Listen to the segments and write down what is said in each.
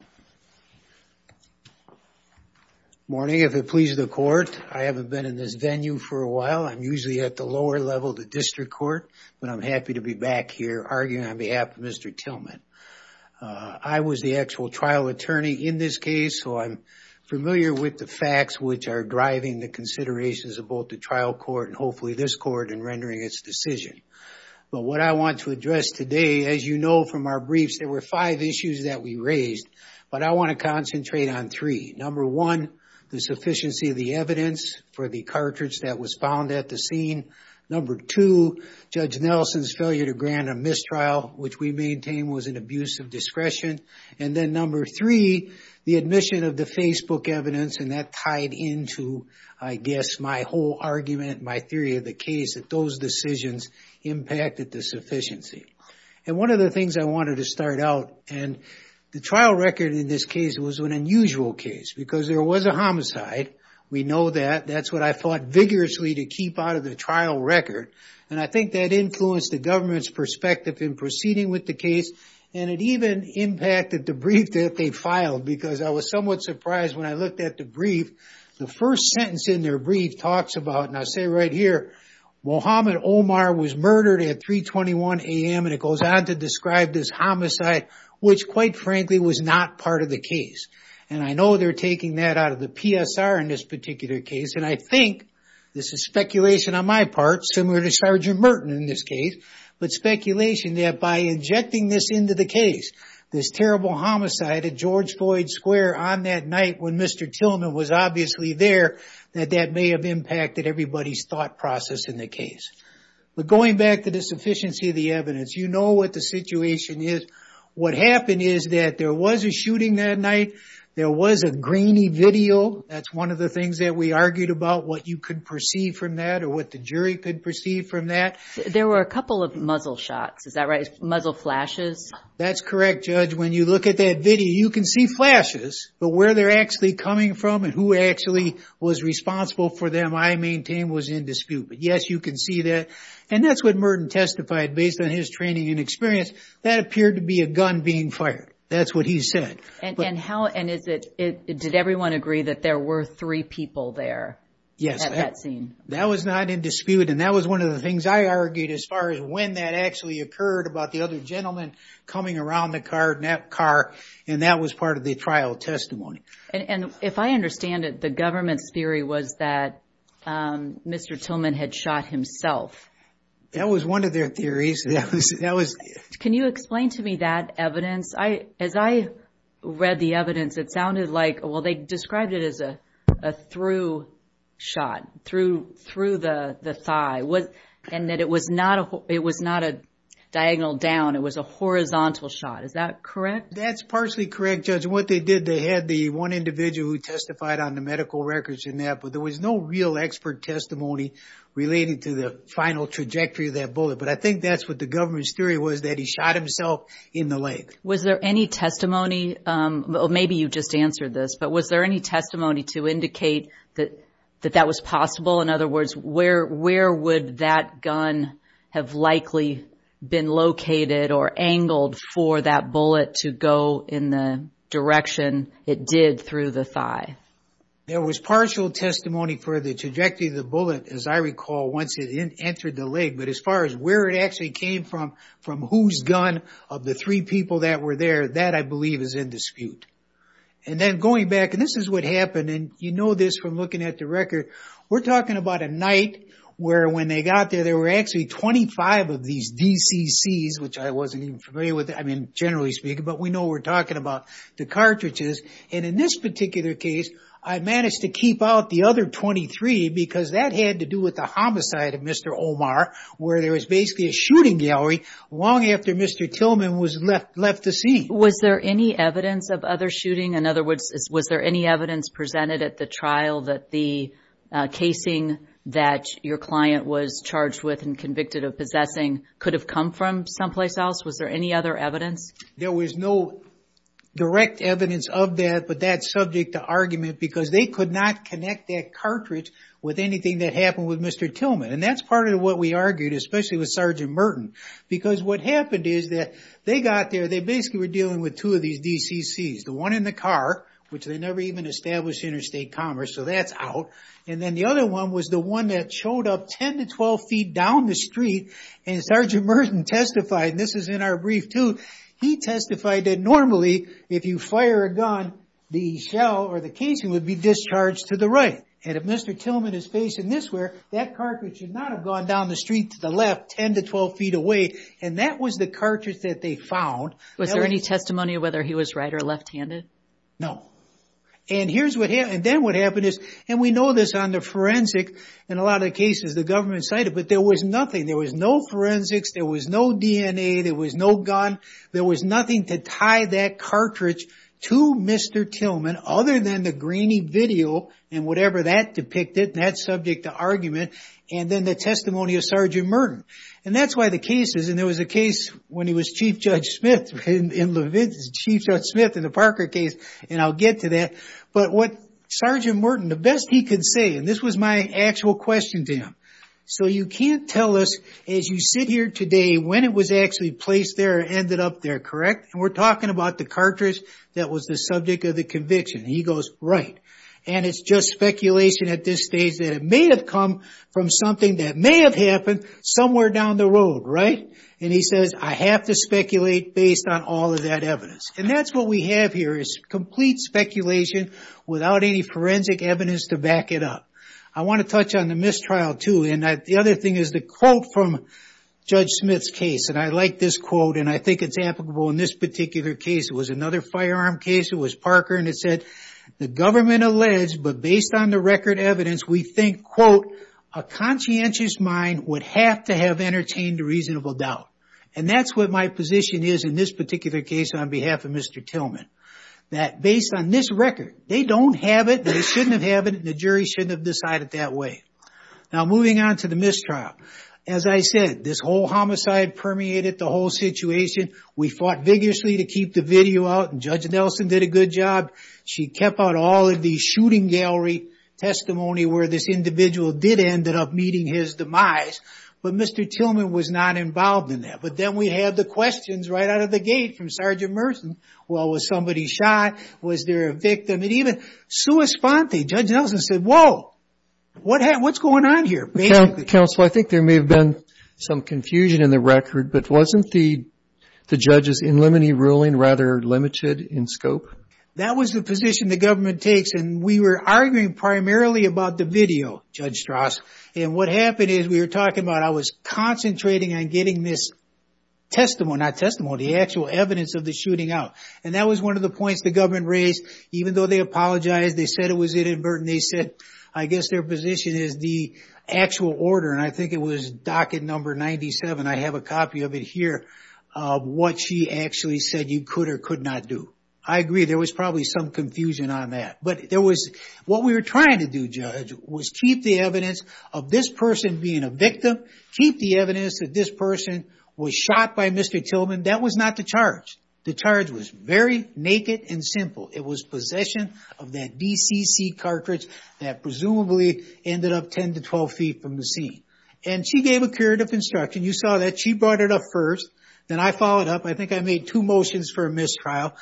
Good morning. If it pleases the court, I haven't been in this venue for a while. I'm usually at the lower level of the district court, but I'm happy to be back here arguing on behalf of Mr. Tillman. I was the actual trial attorney in this case, so I'm familiar with the facts which are driving the considerations of both the trial court and hopefully this court in rendering its decision. But what I want to address today, as you know from our briefs, there were five issues that we raised, but I want to concentrate on three. Number one, the sufficiency of the evidence for the cartridge that was found at the scene. Number two, Judge Nelson's failure to grant a mistrial, which we maintain was an abuse of discretion. And then number three, the admission of the Facebook evidence, and that tied into, I guess, my whole argument, my theory of the case, that those decisions impacted the sufficiency. And one of the things I wanted to start out, and the trial record in this case was an unusual case because there was a homicide. We know that. That's what I fought vigorously to keep out of the trial record, and I think that influenced the government's perspective in proceeding with the case, and it even impacted the brief that they filed because I was somewhat surprised when I looked at the brief. The first sentence in their brief talks about, now say right here, Mohammed Omar was murdered at 321 a.m., and it goes on to describe this homicide, which quite frankly was not part of the case. And I know they're taking that out of the PSR in this particular case, and I think, this is speculation on my part, similar to Sergeant Merton in this case, but speculation that by injecting this into the case, this terrible homicide at George Floyd Square on that night when Mr. Tillman was obviously there, that that may have impacted everybody's thought process in the case. But going back to the sufficiency of the evidence, you know what the situation is. What happened is that there was a shooting that night. There was a grainy video. That's one of the things that we argued about, what you could perceive from that or what the jury could perceive from that. There were a couple of muzzle shots. Is that right? Muzzle flashes? That's correct, Judge. When you look at that video, you can see flashes, but where they're actually coming from and who actually was responsible for them, I maintain, was in dispute. But yes, you can see that. And that's what Merton testified based on his training and experience. That appeared to be a gun being fired. That's what he said. And how, and is it, did everyone agree that there were three people there at that scene? Yes. That was not in dispute, and that was one of the things I argued as far as when that actually occurred about the other gentleman coming around the car, and that was part of the trial testimony. And if I understand it, the government's theory was that Mr. Tillman had shot himself. That was one of their theories. That was... Can you explain to me that evidence? As I read the evidence, it sounded like, well, they described it as a through shot, through the thigh, and that it was not a diagonal down. It was a horizontal shot. Is that correct? That's partially correct, Judge. What they did, they had the one individual who testified on the medical records in that, but there was no real expert testimony related to the final trajectory of that bullet. But I think that's what the government's theory was, that he shot himself in the leg. Was there any testimony, maybe you just answered this, but was there any testimony to indicate that that was possible? In other words, where would that gun have likely been located or angled for that bullet to go in the direction it did through the thigh? There was partial testimony for the trajectory of the bullet, as I recall, once it entered the leg. But as far as where it actually came from, from whose gun, of the three people that were there, that, I believe, is in dispute. And then going back, and this is what happened, and you know this from looking at the record, we're talking about a night where when they got there, there were actually 25 of these DCCs, which I wasn't even familiar with, I mean, generally speaking, but we know we're talking about the cartridges. And in this particular case, I managed to keep out the other 23 because that had to do with the homicide of Mr. Omar, where there was basically a shooting gallery long after Mr. Tillman was left to see. Was there any evidence of other shooting? In other words, was there any evidence presented at the trial that the casing that your client was charged with and convicted of possessing could have come from someplace else? Was there any other evidence? There was no direct evidence of that, but that's subject to argument because they could not connect that cartridge with anything that happened with Mr. Tillman. And that's part of what we argued, especially with Sergeant Merton, because what happened is that they got there, they basically were dealing with two of these DCCs, the one in the car, which they never even established interstate commerce, so that's out, and then the other one was the one that showed up 10 to 12 feet down the street. And Sergeant Merton testified, and this is in our brief too, he testified that normally if you fire a gun, the shell or the casing would be discharged to the right. And if Mr. Tillman is facing this way, that cartridge should not have gone down the street to the left 10 to 12 feet away. And that was the cartridge that they found. Was there any testimony of whether he was right or left-handed? No. And here's what happened, and then what happened is, and we know this on the forensic, in a lot of cases the government cited, but there was nothing. There was no forensics, there was no DNA, there was no gun, there was nothing to tie that cartridge to Mr. Tillman other than the grainy video and whatever that depicted, that's subject to argument, and then the testimony of Sergeant Merton. And that's why the cases, and there was a case when he was Chief Judge Smith in the Parker case, and I'll get to that, but what Sergeant Merton, the best he could say, and this was my actual question to him, so you can't tell us as you sit here today when it was actually placed there or ended up there, correct? And we're talking about the cartridge that was the subject of the conviction. He goes, right. And it's just speculation at this stage that it may have come from something that may have happened somewhere down the road, right? And he says, I have to speculate based on all of that evidence. And that's what we have here, is complete speculation without any forensic evidence to back it up. I want to touch on the mistrial too, and the other thing is the quote from Judge Smith's case, and I like this quote, and I think it's applicable in this particular case. It was another firearm case, it was Parker, and it said, the government alleged, but based on the record evidence, we think, quote, a conscientious mind would have to have entertained a reasonable doubt. And that's what my position is in this particular case on behalf of Mr. Tillman, that based on this record, they don't have it, they shouldn't have it, and the jury shouldn't have decided that way. Now, moving on to the mistrial. As I said, this whole homicide permeated the whole situation. We fought vigorously to keep the video out, and Judge Nelson did a good job. She kept out all of the shooting gallery testimony where this individual did end up meeting his demise, but Mr. Tillman was not involved in that. But then we had the questions right out of the gate from Sergeant Merson, well, was somebody shot? Was there a victim? And even sua sponte, Judge Nelson said, whoa, what's going on here? Basically. Counsel, I think there may have been some confusion in the record, but wasn't the judge's preliminary ruling rather limited in scope? That was the position the government takes, and we were arguing primarily about the video, Judge Strauss. And what happened is we were talking about, I was concentrating on getting this testimony, not testimony, the actual evidence of the shooting out. And that was one of the points the government raised, even though they apologized, they said it was inadvertent, they said, I guess their position is the actual order, and I think it was docket number 97. I have a copy of it here of what she actually said you could or could not do. I agree, there was probably some confusion on that. But there was, what we were trying to do, Judge, was keep the evidence of this person being a victim, keep the evidence that this person was shot by Mr. Tillman. That was not the charge. The charge was very naked and simple. It was possession of that DCC cartridge that presumably ended up 10 to 12 feet from the scene. And she gave a curative instruction. You saw that. She brought it up first. Then I followed up. I think I made two motions for a mistrial.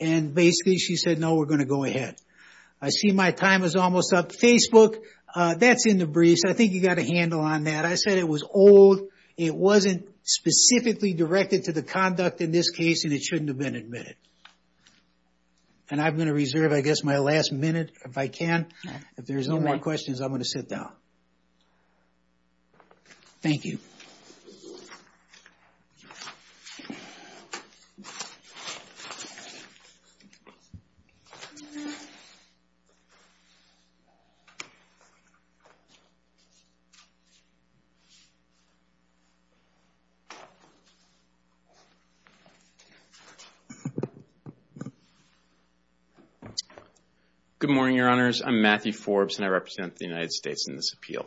And basically, she said, no, we're going to go ahead. I see my time is almost up. Facebook, that's in the briefs. I think you got a handle on that. I said it was old. It wasn't specifically directed to the conduct in this case, and it shouldn't have been admitted. And I'm going to reserve, I guess, my last minute, if I may, to sit down. Thank you. Good morning, Your Honors. I'm Matthew Forbes, and I represent the United States in this field.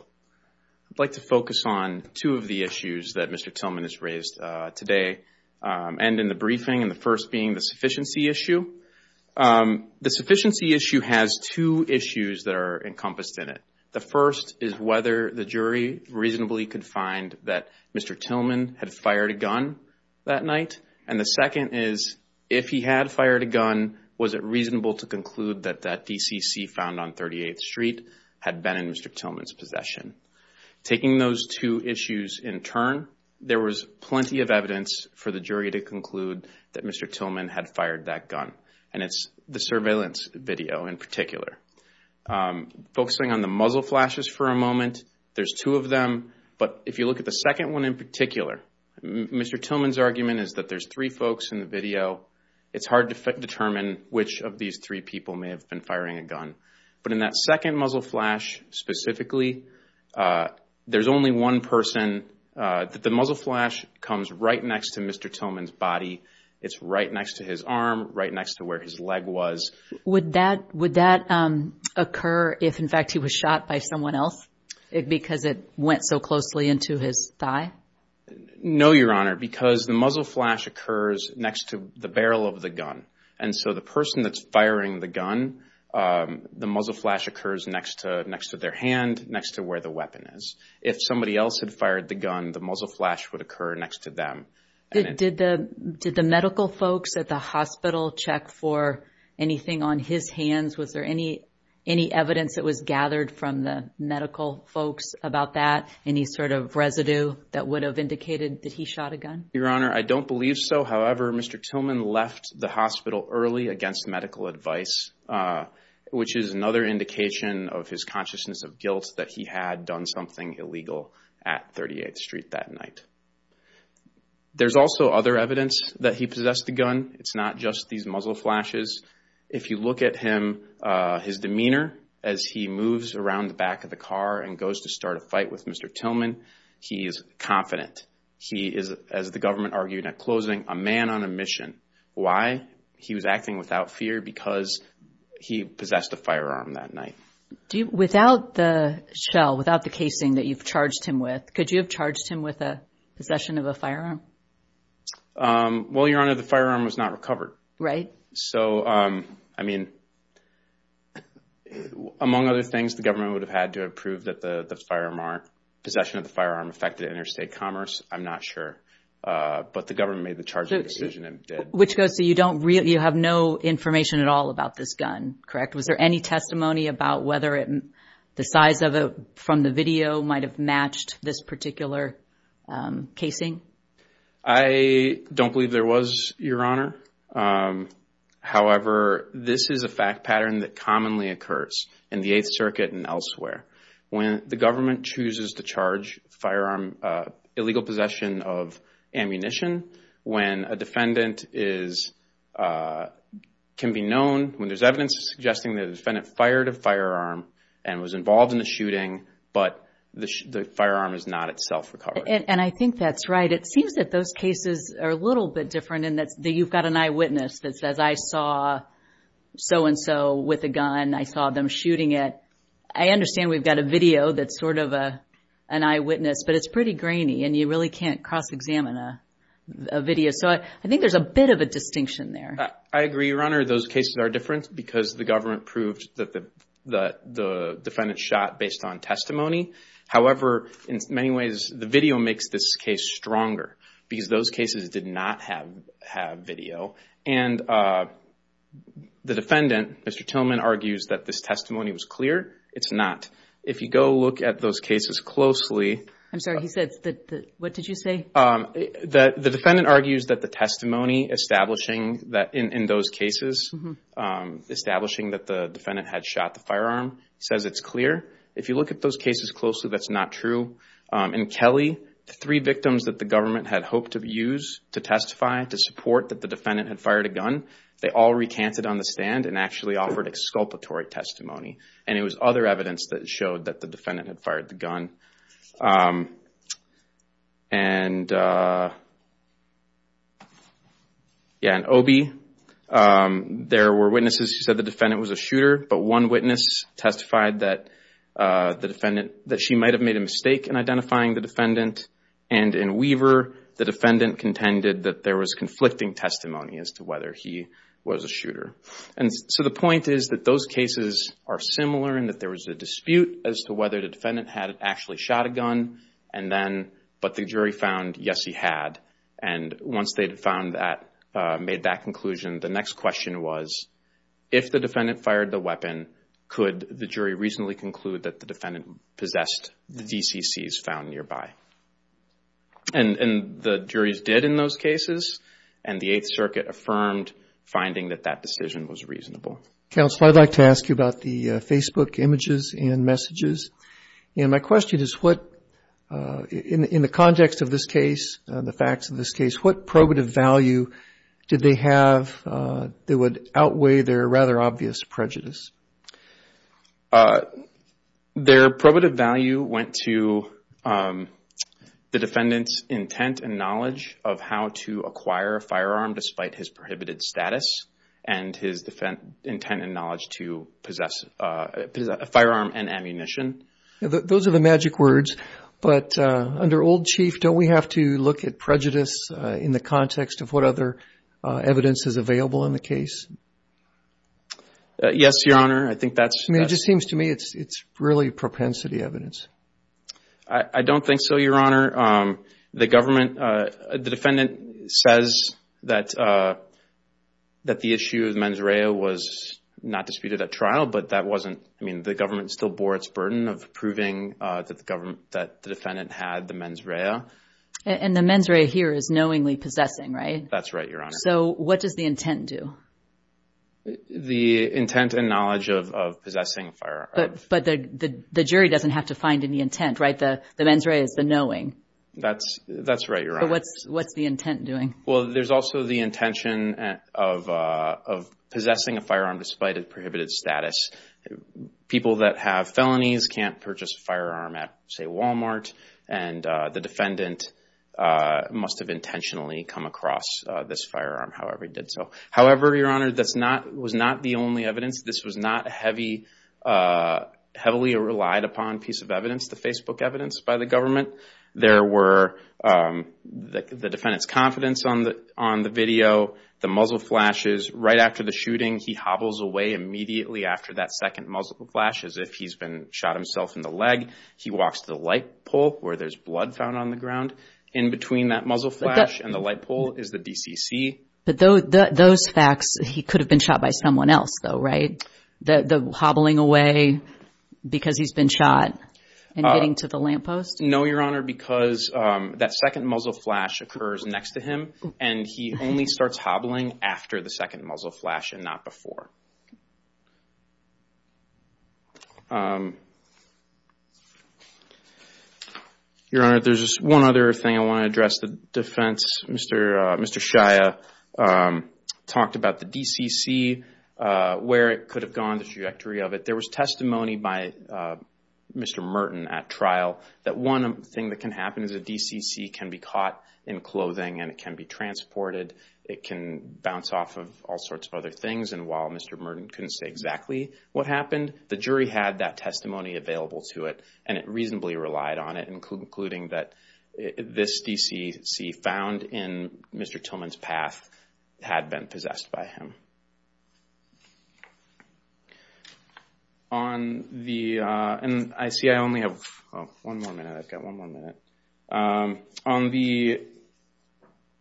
I'd like to focus on two of the issues that Mr. Tillman has raised today and in the briefing, and the first being the sufficiency issue. The sufficiency issue has two issues that are encompassed in it. The first is whether the jury reasonably could find that Mr. Tillman had fired a gun that night. And the second is, if he had fired a gun, was it reasonable to conclude that that DCC found on 38th Street had been in Mr. Tillman's possession? Taking those two issues in turn, there was plenty of evidence for the jury to conclude that Mr. Tillman had fired that gun. And it's the surveillance video in particular. Focusing on the muzzle flashes for a moment, there's two of them. But if you look at the second one in particular, Mr. Tillman's argument is that there's three folks in the video. It's hard to determine which of these three people may have been firing a gun. But in that second muzzle flash specifically, there's only one person. The muzzle flash comes right next to Mr. Tillman's body. It's right next to his arm, right next to where his leg was. Would that occur if, in fact, he was shot by someone else because it went so closely into his thigh? No, Your Honor, because the muzzle flash occurs next to the barrel of the gun. And so the person that's firing the gun, the muzzle flash occurs next to their hand, next to where the weapon is. If somebody else had fired the gun, the muzzle flash would occur next to them. Did the medical folks at the hospital check for anything on his hands? Was there any evidence that was gathered from the medical folks about that? Any sort of residue that would have indicated that he shot a gun? Your Honor, I don't believe so. However, Mr. Tillman left the hospital early against medical advice, which is another indication of his consciousness of guilt that he had done something illegal at 38th Street that night. There's also other evidence that he possessed the gun. It's not just these muzzle flashes. If you look at him, his demeanor as he moves around the back of the car and goes to start a fight with Mr. Tillman, he is confident. He is, as the government argued at closing, a man on a mission. Why? He was acting without fear because he possessed a firearm that night. Without the shell, without the casing that you've charged him with, could you have charged him with a possession of a firearm? Well, Your Honor, the firearm was not recovered. Right. So, I mean, among other things, the government would have had to have proved that the possession of the firearm affected interstate commerce. I'm not sure. But the government made the charging decision and did. Which goes to, you have no information at all about this gun, correct? Was there any testimony about whether the size from the video might have matched this particular casing? I don't believe there was, Your Honor. However, this is a fact pattern that commonly occurs in the Eighth Circuit and elsewhere. When the government chooses to charge firearm, illegal possession of ammunition, when a defendant is, can be known, when there's evidence suggesting the defendant fired a firearm and was involved in the shooting, but the firearm is not itself recovered. And I think that's right. It seems that those cases are a little bit different in that you've got an eyewitness that says, I saw so-and-so with a gun. I saw them shooting it. I understand we've got a video that's sort of an eyewitness, but it's pretty grainy and you really can't cross-examine a video. So, I think there's a bit of a distinction there. I agree, Your Honor. Those cases are different because the government proved that the defendant shot based on testimony. However, in many ways, the video makes this case stronger because those cases did not have video. And the defendant, Mr. Tillman, argues that this testimony was clear. It's not. If you go look at those cases closely... I'm sorry, he said, what did you say? The defendant argues that the testimony establishing that in those cases, establishing that the defendant had shot the firearm says it's clear. If you look at those cases closely, that's not true. In Kelly, the three victims that the government had hoped to use to testify to support that the defendant had fired a gun, they all recanted on the stand and actually offered exculpatory testimony. And it was other evidence that showed that the defendant had fired the gun. In Obey, there were witnesses who said the defendant was a shooter, but one witness testified that she might have made a mistake in identifying the defendant. And in Weaver, the defendant contended that there was conflicting testimony as to whether he was a shooter. So the point is that those cases are similar in that there was a dispute as to whether the defendant had actually shot a gun, but the jury found, yes, he had. And once they had made that conclusion, the next question was, if the defendant fired the weapon, could the jury reasonably conclude that the defendant possessed the DCCs found nearby? And the juries did in those cases, and the Eighth Circuit affirmed finding that that decision was reasonable. Counsel, I'd like to ask you about the Facebook images and messages. And my question is, in the context of this case, the facts of this case, what probative value did they have that would outweigh their rather obvious prejudice? Their probative value went to the defendant's intent and knowledge of how to acquire a firearm despite his prohibited status and his intent and knowledge to possess a firearm and ammunition. Those are the magic words. But under Old Chief, don't we have to look at prejudice in the context of what other evidence is available in the case? Yes, Your Honor. I think that's... I mean, it just seems to me it's really propensity evidence. I don't think so, Your Honor. The defendant says that the issue of mens rea was not disputed at trial, but that wasn't... I mean, the government still bore its burden of proving that the defendant had the mens rea. And the mens rea here is knowingly possessing, right? That's right, Your Honor. So what does the intent do? The intent and knowledge of possessing a firearm. But the jury doesn't have to find any intent, right? The mens rea is the knowing. That's right, Your Honor. But what's the intent doing? Well, there's also the intention of possessing a firearm despite its prohibited status. People that have felonies can't purchase a firearm at, say, Walmart. And the defendant must have intentionally come across this firearm, however he did so. However, Your Honor, that was not the only evidence. This was not a heavily relied upon piece of evidence, the Facebook evidence by the government. There were the defendant's confidence on the video, the muzzle flashes. Right after the shooting, he hobbles away immediately after that second muzzle flash as if he's been shot himself in the leg. He walks to the light pole where there's blood found on the ground. In between that muzzle flash and the light pole is the DCC. But those facts, he could have been shot by someone else, though, right? The hobbling away because he's been shot and getting to the lamppost? No, Your Honor, because that second muzzle flash occurs next to him, and he only starts hobbling after the second muzzle flash and not before. Your Honor, there's one other thing I want to address the defense. Mr. Shia talked about the DCC, where it could have gone, the trajectory of it. There was testimony by Mr. Merton at trial that one thing that can happen is a DCC can be caught in clothing and it can be transported, it can bounce off of all sorts of other things. And while Mr. Merton couldn't say exactly what happened, the jury had that testimony available to it and it reasonably relied on it, including that this DCC found in Mr. Tillman's path had been possessed by him. On the, and I see I only have one more minute, I've got one more minute. On the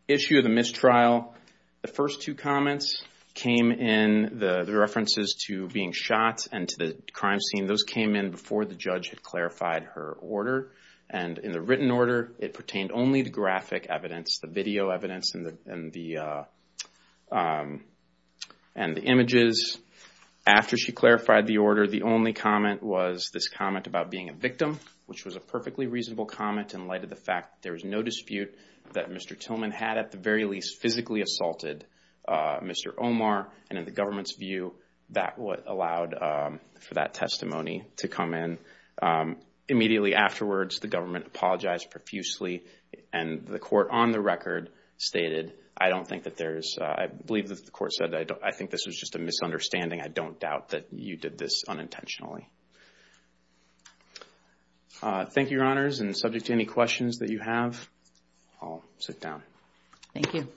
issue of the mistrial, the first two comments came in, the references to being shot and to the crime scene, and those came in before the judge had clarified her order. And in the written order, it pertained only to graphic evidence, the video evidence and the images. After she clarified the order, the only comment was this comment about being a victim, which was a perfectly reasonable comment in light of the fact there was no dispute that Mr. Tillman had at the very least physically assaulted Mr. Omar. And in the government's view, that allowed for that testimony to come in. Immediately afterwards, the government apologized profusely and the court on the record stated, I don't think that there's, I believe that the court said, I think this was just a misunderstanding. I don't doubt that you did this unintentionally. Thank you, your honors. And subject to any questions that you have, I'll sit down. Thank you.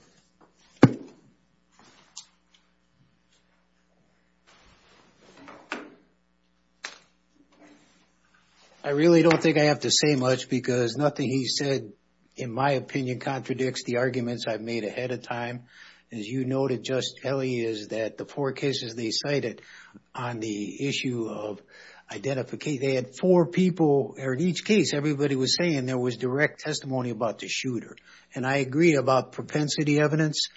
I really don't think I have to say much because nothing he said, in my opinion, contradicts the arguments I've made ahead of time. As you noted, Justice Kelly, is that the four cases they cited on the issue of identification, they had four people, or in each case, everybody was saying there was direct testimony about the shooter. And I agree about propensity evidence,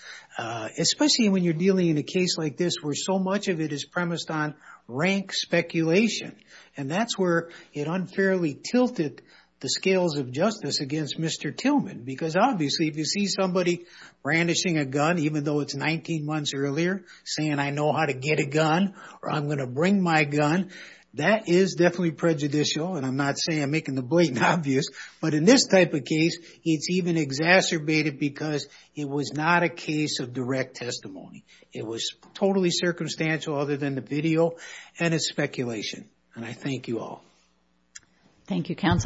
especially when you're dealing in a case like this, where so much of it is premised on rank speculation. And that's where it unfairly tilted the scales of justice against Mr. Tillman. Because obviously, if you see somebody brandishing a gun, even though it's 19 months earlier, saying I know how to get a gun, or I'm going to bring my gun, that is definitely prejudicial. And I'm not saying, I'm making the blatant obvious. But in this type of case, it's even exacerbated because it was not a case of direct testimony. It was totally circumstantial other than the video and its speculation. And I thank you all. Thank you, counsel.